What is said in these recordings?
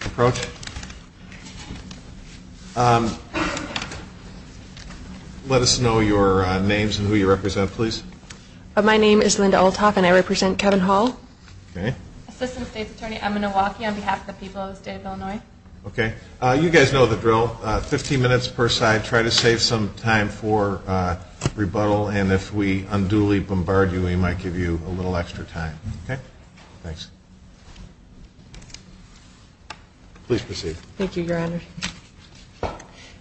Approach. Let us know your names and who you represent, please. My name is Linda Althoff and I represent Kevin Hall. Assistant State's Attorney Emma Nowacki on behalf of the people of the State of Illinois. Okay. You guys know the drill. Fifteen minutes per side. Try to save some time for rebuttal. And if we unduly bombard you, we might give you a little extra time. Okay? Thanks. Please proceed. Thank you, Your Honor.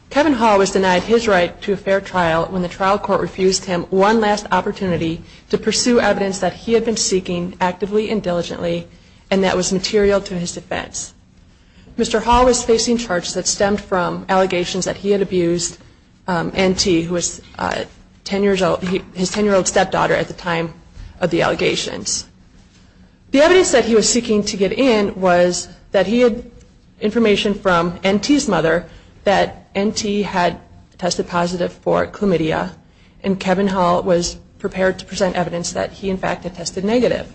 Kevin Hall was denied his right to a fair trial when the trial court refused him one last opportunity to pursue evidence that he had been seeking actively and diligently and that was material to his defense. Mr. Hall was facing charges that stemmed from allegations that he had abused N.T., who was his ten-year-old stepdaughter at the time of the allegations. The evidence that he was seeking to get in was that he had information from N.T.'s mother that N.T. had tested positive for chlamydia and Kevin Hall was prepared to present evidence that he, in fact, had tested negative.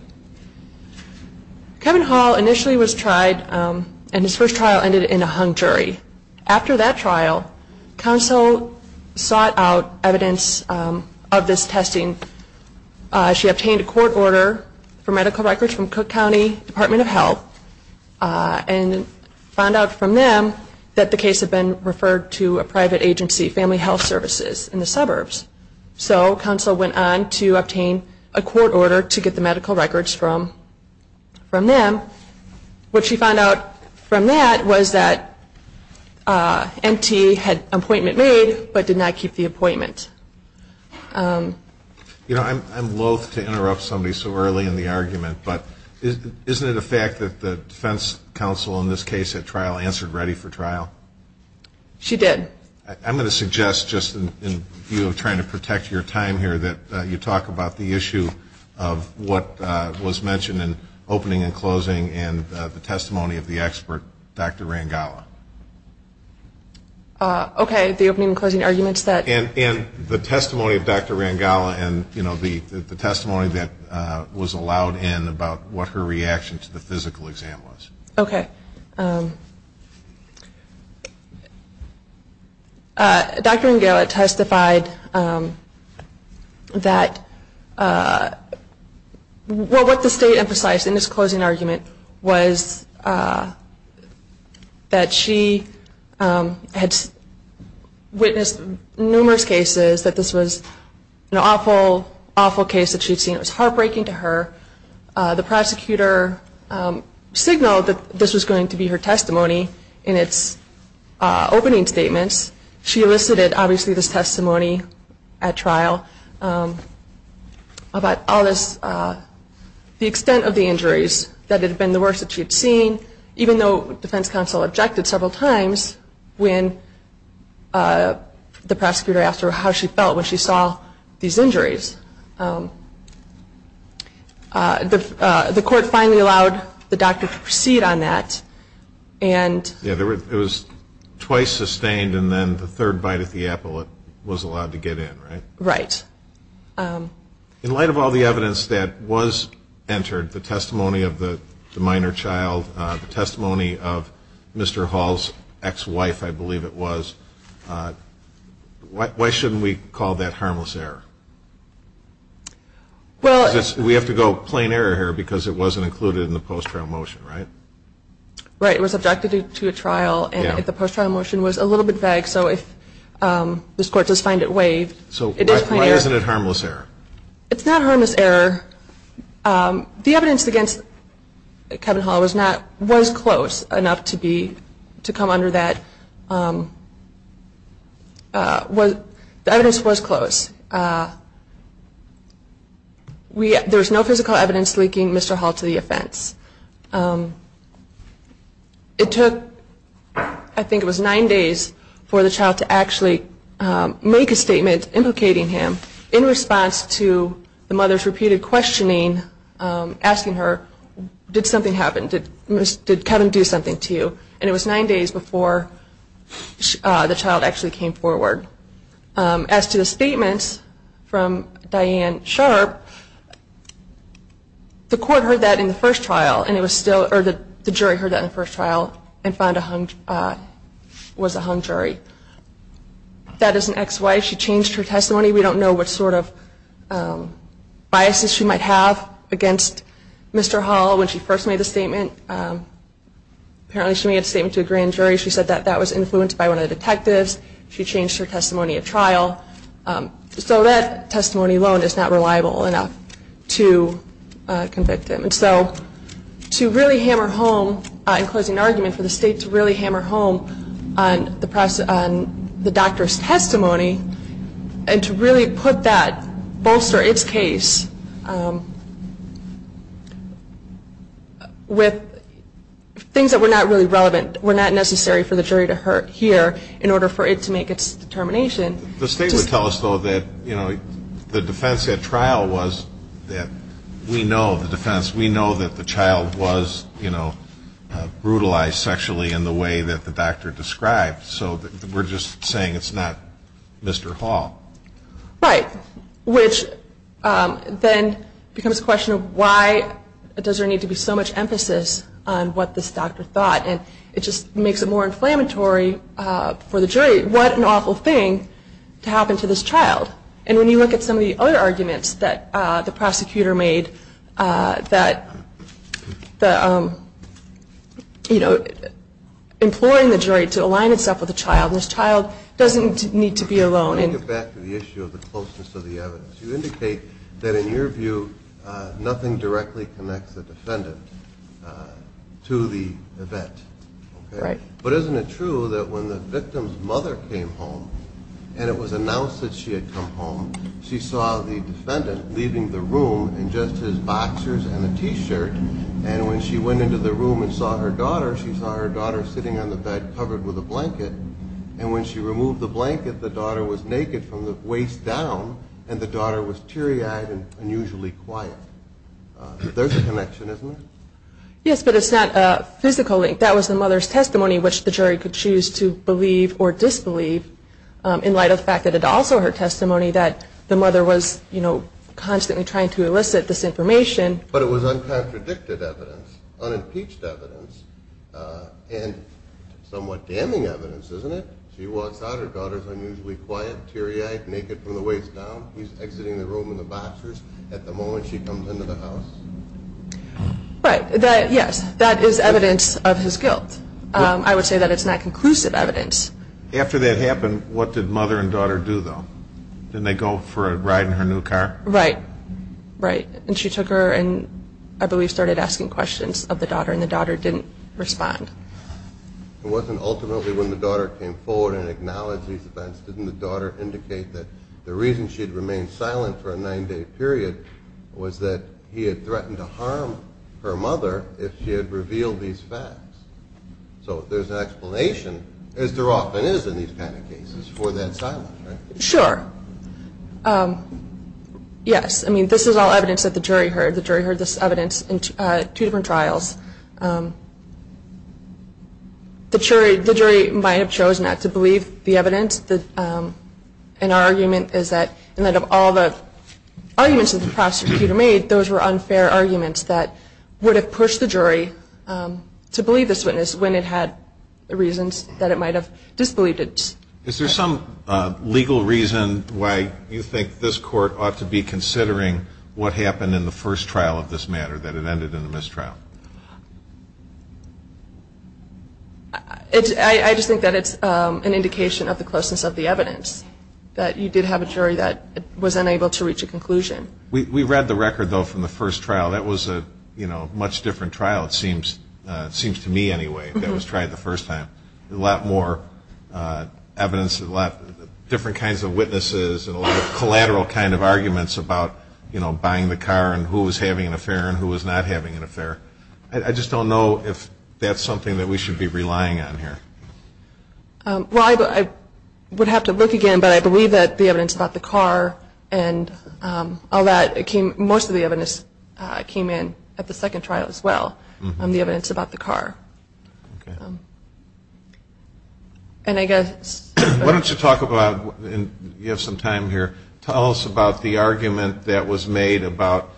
Kevin Hall initially was tried and his first trial ended in a hung jury. After that trial, counsel sought out evidence of this testing. She obtained a court order for medical records from Cook County Department of Health and found out from them that the case had been referred to a private agency, Family Health Services, in the suburbs. So counsel went on to obtain a court order to get the medical records from them. What she found out from that was that N.T. had an appointment made but did not keep the appointment. You know, I'm loath to interrupt somebody so early in the argument, but isn't it a fact that the defense counsel in this case at trial answered ready for trial? She did. I'm going to suggest, just in view of trying to protect your time here, that you talk about the issue of what was mentioned in opening and closing and the testimony of the expert, Dr. Rangala. Okay. The opening and closing arguments that ---- And the testimony of Dr. Rangala and, you know, the testimony that was allowed in about what her reaction to the physical exam was. Okay. Dr. Rangala testified that what the state emphasized in this closing argument was that she had witnessed numerous cases that this was an awful, awful case that she'd seen. It was heartbreaking to her. The prosecutor signaled that this was going to be her testimony in its opening statements. She elicited, obviously, this testimony at trial about all this, the extent of the injuries, that it had been the worst that she had seen, even though defense counsel objected several times when the prosecutor asked her how she felt when she saw these injuries. The court finally allowed the doctor to proceed on that and ---- Yeah, it was twice sustained and then the third bite at the apple it was allowed to get in, right? Right. In light of all the evidence that was entered, the testimony of the minor child, the testimony of Mr. Hall's ex-wife, I believe it was, why shouldn't we call that harmless error? Because we have to go plain error here because it wasn't included in the post-trial motion, right? Right. It was subjected to a trial and the post-trial motion was a little bit vague, so if this Court does find it waived, it is plain error. So why isn't it harmless error? It's not harmless error. The evidence against Kevin Hall was close enough to come under that. The evidence was close. There was no physical evidence linking Mr. Hall to the offense. It took, I think it was nine days, for the child to actually make a statement implicating him in response to the mother's repeated questioning, asking her, did something happen? Did Kevin do something to you? And it was nine days before the child actually came forward. As to the statement from Diane Sharp, the court heard that in the first trial, and it was still, or the jury heard that in the first trial and found a hung, was a hung jury. That is an ex-wife. She changed her testimony. We don't know what sort of biases she might have against Mr. Hall when she first made the statement. Apparently she made a statement to a grand jury. She said that that was influenced by one of the detectives. She changed her testimony at trial. So that testimony alone is not reliable enough to convict him. And so to really hammer home, in closing argument, for the state to really hammer home on the doctor's testimony and to really put that, bolster its case with things that were not really relevant, were not necessary for the jury to hear in order for it to make its determination. The state would tell us, though, that the defense at trial was that we know the defense. We know that the child was brutalized sexually in the way that the doctor described. So we're just saying it's not Mr. Hall. Right, which then becomes a question of why does there need to be so much emphasis on what this doctor thought. And it just makes it more inflammatory for the jury. What an awful thing to happen to this child. And when you look at some of the other arguments that the prosecutor made that, you know, imploring the jury to align itself with the child, this child doesn't need to be alone. Let me get back to the issue of the closeness of the evidence. You indicate that, in your view, nothing directly connects the defendant to the event. Right. But isn't it true that when the victim's mother came home and it was announced that she had come home, she saw the defendant leaving the room in just his boxers and a T-shirt, and when she went into the room and saw her daughter, she saw her daughter sitting on the bed covered with a blanket. And when she removed the blanket, the daughter was naked from the waist down, and the daughter was teary-eyed and unusually quiet. There's a connection, isn't there? Yes, but it's not physically. That was the mother's testimony, which the jury could choose to believe or disbelieve, in light of the fact that it's also her testimony that the mother was, you know, constantly trying to elicit this information. But it was uncontradicted evidence, unimpeached evidence, and somewhat damning evidence, isn't it? She walks out, her daughter's unusually quiet, teary-eyed, naked from the waist down. He's exiting the room in the boxers. At the moment, she comes into the house. Right. Yes, that is evidence of his guilt. I would say that it's not conclusive evidence. After that happened, what did mother and daughter do, though? Didn't they go for a ride in her new car? Right, right. And she took her and, I believe, started asking questions of the daughter, and the daughter didn't respond. It wasn't ultimately when the daughter came forward and acknowledged these events, didn't the daughter indicate that the reason she had remained silent for a nine-day period was that he had threatened to harm her mother if she had revealed these facts? So there's an explanation, as there often is in these kind of cases, for that silence, right? Sure. Yes, I mean, this is all evidence that the jury heard. The jury heard this evidence in two different trials. The jury might have chosen not to believe the evidence. And our argument is that in light of all the arguments that the prosecutor made, those were unfair arguments that would have pushed the jury to believe this witness when it had the reasons that it might have disbelieved it. Is there some legal reason why you think this court ought to be considering what happened in the first trial of this matter, that it ended in a mistrial? I just think that it's an indication of the closeness of the evidence, that you did have a jury that was unable to reach a conclusion. We read the record, though, from the first trial. That was a much different trial, it seems to me anyway, that was tried the first time. A lot more evidence, different kinds of witnesses, and a lot of collateral kind of arguments about buying the car I just don't know if that's something that we should be relying on here. Well, I would have to look again, but I believe that the evidence about the car and all that, most of the evidence came in at the second trial as well, the evidence about the car. Okay. What don't you talk about, you have some time here, tell us about the argument that was made about,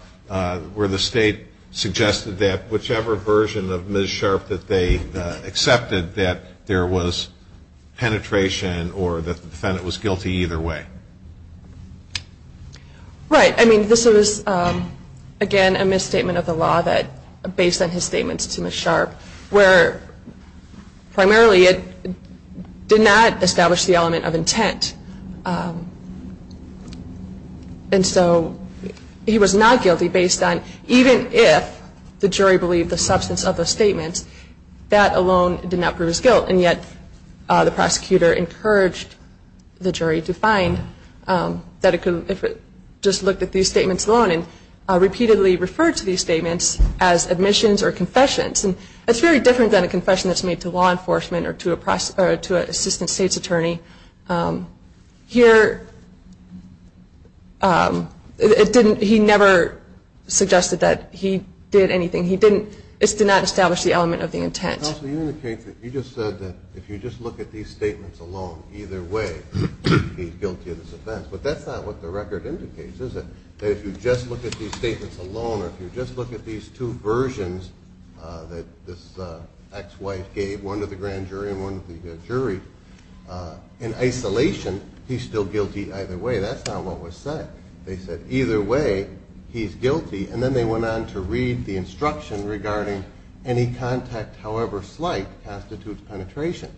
where the state suggested that whichever version of Ms. Sharp that they accepted, that there was penetration or that the defendant was guilty either way. Right. I mean, this is, again, a misstatement of the law based on his statements to Ms. Sharp, where primarily it did not establish the element of intent. And so he was not guilty based on, even if the jury believed the substance of the statements, that alone did not prove his guilt. And yet the prosecutor encouraged the jury to find that if it just looked at these statements alone and repeatedly referred to these statements as admissions or confessions, he would be guilty of this offense. And it's very different than a confession that's made to law enforcement or to an assistant state's attorney. Here, it didn't, he never suggested that he did anything. He didn't, it did not establish the element of the intent. Counsel, you indicated, you just said that if you just look at these statements alone, either way, he's guilty of this offense. But that's not what the record indicates, is it? That if you just look at these statements alone or if you just look at these two versions that this ex-wife gave, one to the grand jury and one to the jury, in isolation, he's still guilty either way. That's not what was said. They said, either way, he's guilty. And then they went on to read the instruction regarding any contact, however slight, constitutes penetration.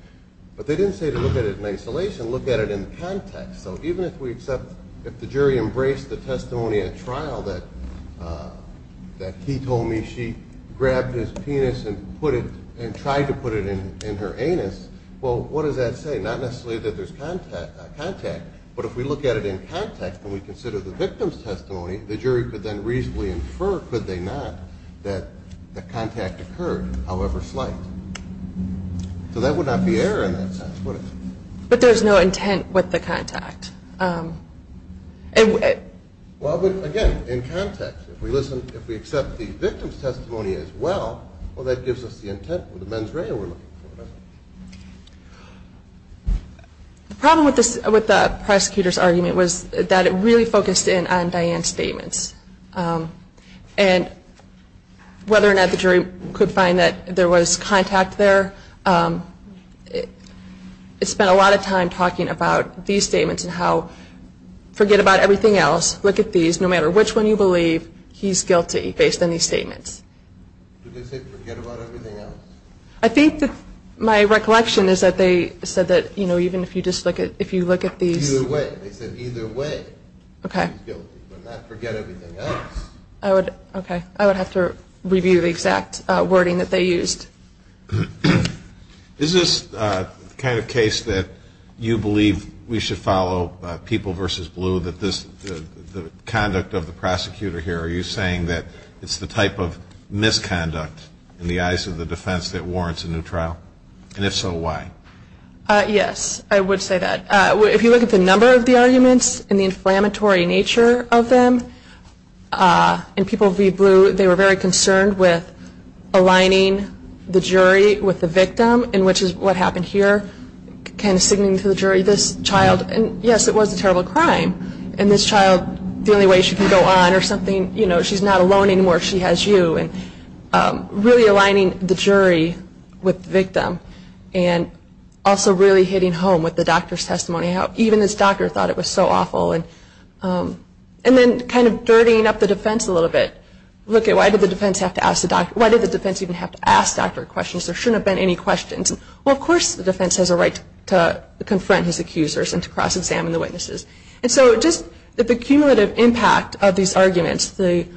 But they didn't say to look at it in isolation, look at it in context. So even if we accept, if the jury embraced the testimony at trial that he told me she grabbed his penis and tried to put it in her anus, well, what does that say? Not necessarily that there's contact. But if we look at it in context and we consider the victim's testimony, the jury could then reasonably infer, could they not, that the contact occurred, however slight. So that would not be error in that sense, would it? But there's no intent with the contact. Well, again, in context, if we listen, if we accept the victim's testimony as well, well, that gives us the intent with the mens rea we're looking for, doesn't it? The problem with the prosecutor's argument was that it really focused in on Diane's statements. And whether or not the jury could find that there was contact there, it spent a lot of time talking about these statements and how forget about everything else, look at these, no matter which one you believe, he's guilty based on these statements. Did they say forget about everything else? I think that my recollection is that they said that, you know, even if you just look at, if you look at these. Either way. They said either way. Okay. Okay. I would have to review the exact wording that they used. Is this the kind of case that you believe we should follow, people versus blue, that the conduct of the prosecutor here, are you saying that it's the type of misconduct in the eyes of the defense that warrants a new trial? And if so, why? Yes, I would say that. If you look at the number of the arguments and the inflammatory nature of them, in people v. blue, they were very concerned with aligning the jury with the victim, which is what happened here. Kind of singing to the jury, this child, and yes, it was a terrible crime, and this child, the only way she can go on or something, you know, she's not alone anymore, she has you. Really aligning the jury with the victim, and also really hitting home with the doctor's testimony, how even this doctor thought it was so awful, and then kind of dirtying up the defense a little bit. Look at why did the defense even have to ask doctor questions? There shouldn't have been any questions. Well, of course the defense has a right to confront his accusers and to cross-examine the witnesses. And so just the cumulative impact of these arguments, the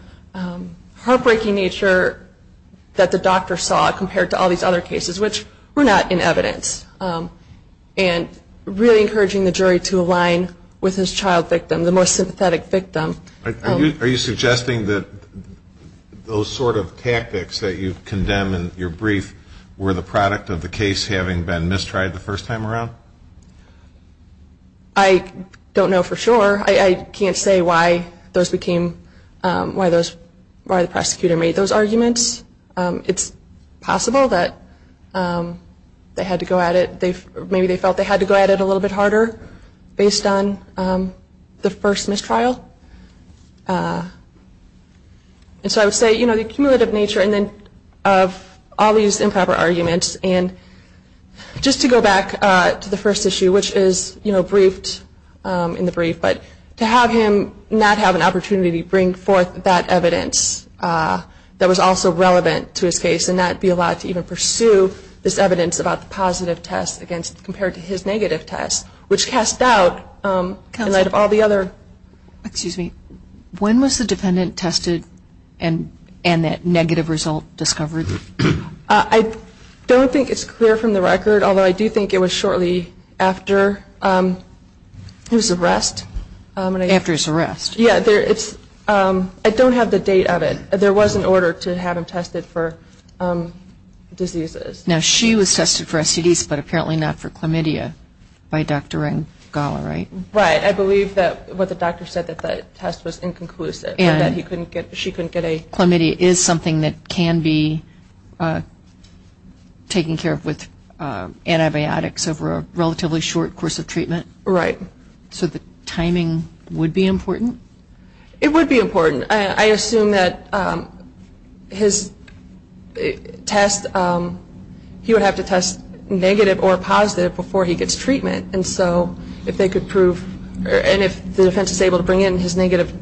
heartbreaking nature that the doctor saw compared to all these other cases, which were not in evidence, and really encouraging the jury to align with his child victim, the most sympathetic victim. Are you suggesting that those sort of tactics that you condemn in your brief were the product of the case having been mistried the first time around? I don't know for sure. I can't say why those became, why the prosecutor made those arguments. It's possible that they had to go at it, maybe they felt they had to go at it a little bit harder based on the first mistrial. And so I would say, you know, the cumulative nature of all these improper arguments, and just to go back to the first issue, which is, you know, briefed in the brief, but to have him not have an opportunity to bring forth that evidence that was also relevant to his case and not be allowed to even pursue this evidence about the positive test compared to his negative test, which cast doubt in light of all the other. Excuse me. When was the defendant tested and that negative result discovered? I don't think it's clear from the record, although I do think it was shortly after his arrest. After his arrest. Yeah, it's, I don't have the date of it. There was an order to have him tested for diseases. Now, she was tested for STDs, but apparently not for chlamydia by Dr. Ngala, right? Right. I believe that what the doctor said, that the test was inconclusive and that he couldn't get, she couldn't get a chlamydia is something that can be taken care of with antibiotics over a relatively short course of treatment. Right. So the timing would be important? It would be important. I assume that his test, he would have to test negative or positive before he gets treatment, and so if they could prove, and if the defense is able to bring in his negative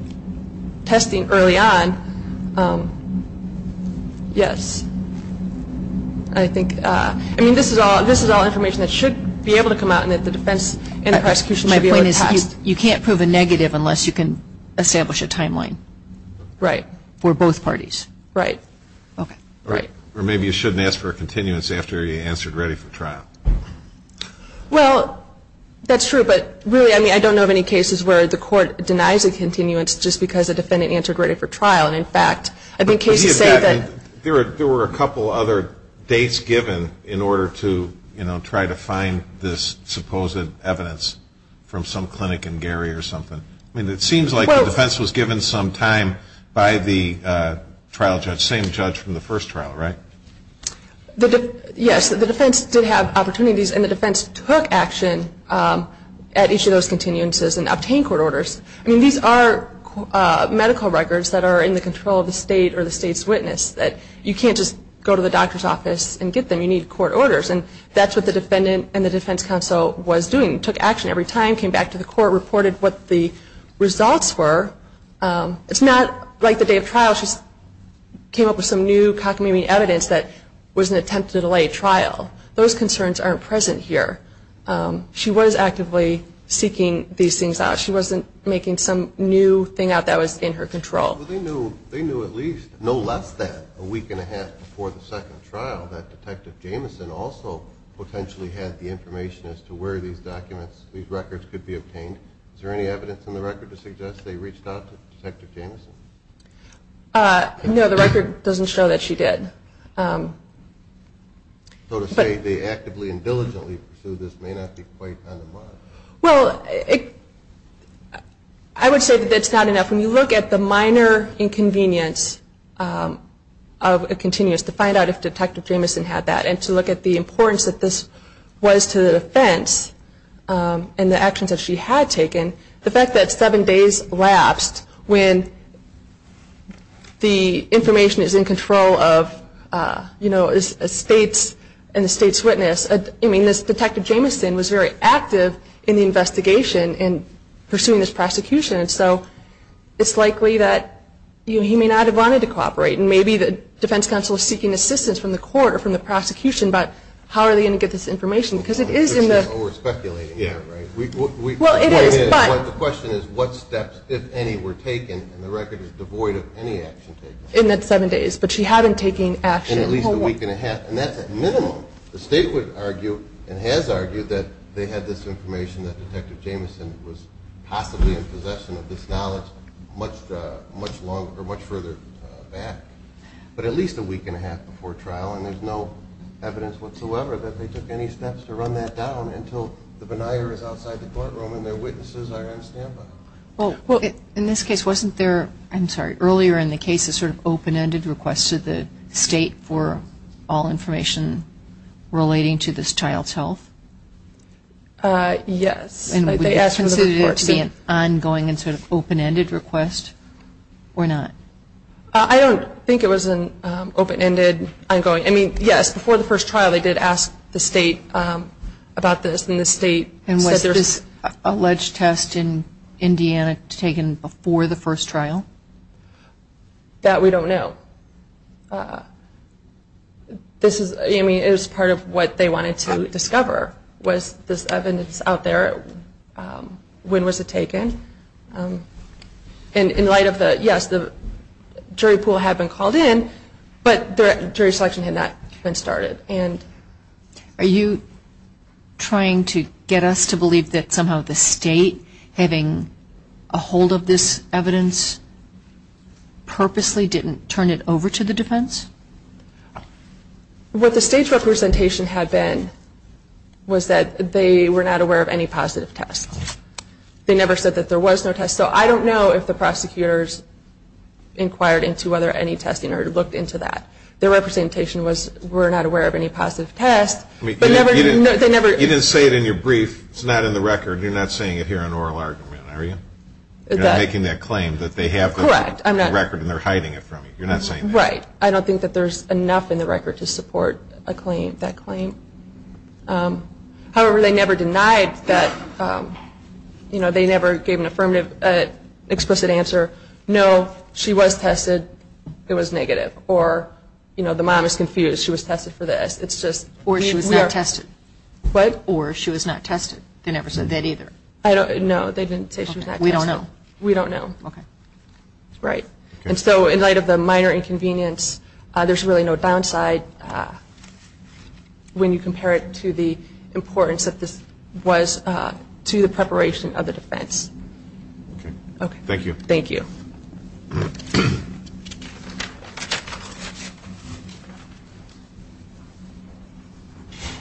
testing early on, yes. I think, I mean, this is all information that should be able to come out and that the defense and the prosecution should be able to test. My point is you can't prove a negative unless you can establish a timeline. Right. For both parties. Right. Okay. Right. Or maybe you shouldn't ask for a continuance after you answered ready for trial. Well, that's true, but really, I mean, I don't know of any cases where the court denies a continuance just because a defendant answered ready for trial, and in fact, I think cases say that. There were a couple other dates given in order to, you know, try to find this supposed evidence from some clinic in Gary or something. I mean, it seems like the defense was given some time by the trial judge, same judge from the first trial, right? Yes, the defense did have opportunities, and the defense took action at each of those continuances and obtained court orders. I mean, these are medical records that are in the control of the state or the state's witness. You can't just go to the doctor's office and get them. You need court orders, and that's what the defendant and the defense counsel was doing, took action every time, came back to the court, reported what the results were. It's not like the day of trial. She came up with some new cockamamie evidence that was an attempt to delay trial. Those concerns aren't present here. She was actively seeking these things out. She wasn't making some new thing out that was in her control. Well, they knew at least no less than a week and a half before the second trial that Detective Jamison also potentially had the information as to where these documents, these records could be obtained. Is there any evidence in the record to suggest they reached out to Detective Jamison? No, the record doesn't show that she did. So to say they actively and diligently pursued this may not be quite undermined. Well, I would say that that's not enough. When you look at the minor inconvenience of a continuous to find out if Detective Jamison had that and to look at the importance that this was to the defense and the actions that she had taken, the fact that seven days lapsed when the information is in control of, you know, a state's witness, I mean, Detective Jamison was very active in the investigation and pursuing this prosecution. So it's likely that he may not have wanted to cooperate. And maybe the defense counsel is seeking assistance from the court or from the prosecution, but how are they going to get this information? Because it is in the... Well, we're speculating here, right? Well, it is, but... The question is what steps, if any, were taken, and the record is devoid of any action taken. In that seven days, but she hadn't taken action. In at least a week and a half, and that's at minimum. The state would argue and has argued that they had this information that Detective Jamison was possibly in possession of this knowledge much further back. But at least a week and a half before trial, and there's no evidence whatsoever that they took any steps to run that down until the denier is outside the courtroom and their witnesses are on standby. Well, in this case, wasn't there, I'm sorry, earlier in the case, a sort of open-ended request to the state for all information relating to this child's health? Yes. And would you consider it to be an ongoing and sort of open-ended request or not? I don't think it was an open-ended, ongoing. I mean, yes, before the first trial they did ask the state about this, and the state said there was... And was this alleged test in Indiana taken before the first trial? That we don't know. I mean, it was part of what they wanted to discover was this evidence out there. When was it taken? And in light of the, yes, the jury pool had been called in, but jury selection had not been started. Are you trying to get us to believe that somehow the state having a hold of this evidence purposely didn't turn it over to the defense? What the state's representation had been was that they were not aware of any positive tests. They never said that there was no test. So I don't know if the prosecutors inquired into whether any testing or looked into that. Their representation was we're not aware of any positive tests. You didn't say it in your brief. It's not in the record. You're not saying it here in oral argument, are you? You're not making that claim that they have the record and they're hiding it from you. You're not saying that. Right. I don't think that there's enough in the record to support that claim. However, they never denied that... You know, they never gave an affirmative explicit answer, no, she was tested, it was negative. Or, you know, the mom is confused, she was tested for this. Or she was not tested. What? Or she was not tested. They never said that either. No, they didn't say she was not tested. We don't know. We don't know. Okay. Right. And so in light of the minor inconvenience, there's really no downside when you compare it to the importance that this was to the preparation of the defense. Okay. Thank you. Thank you.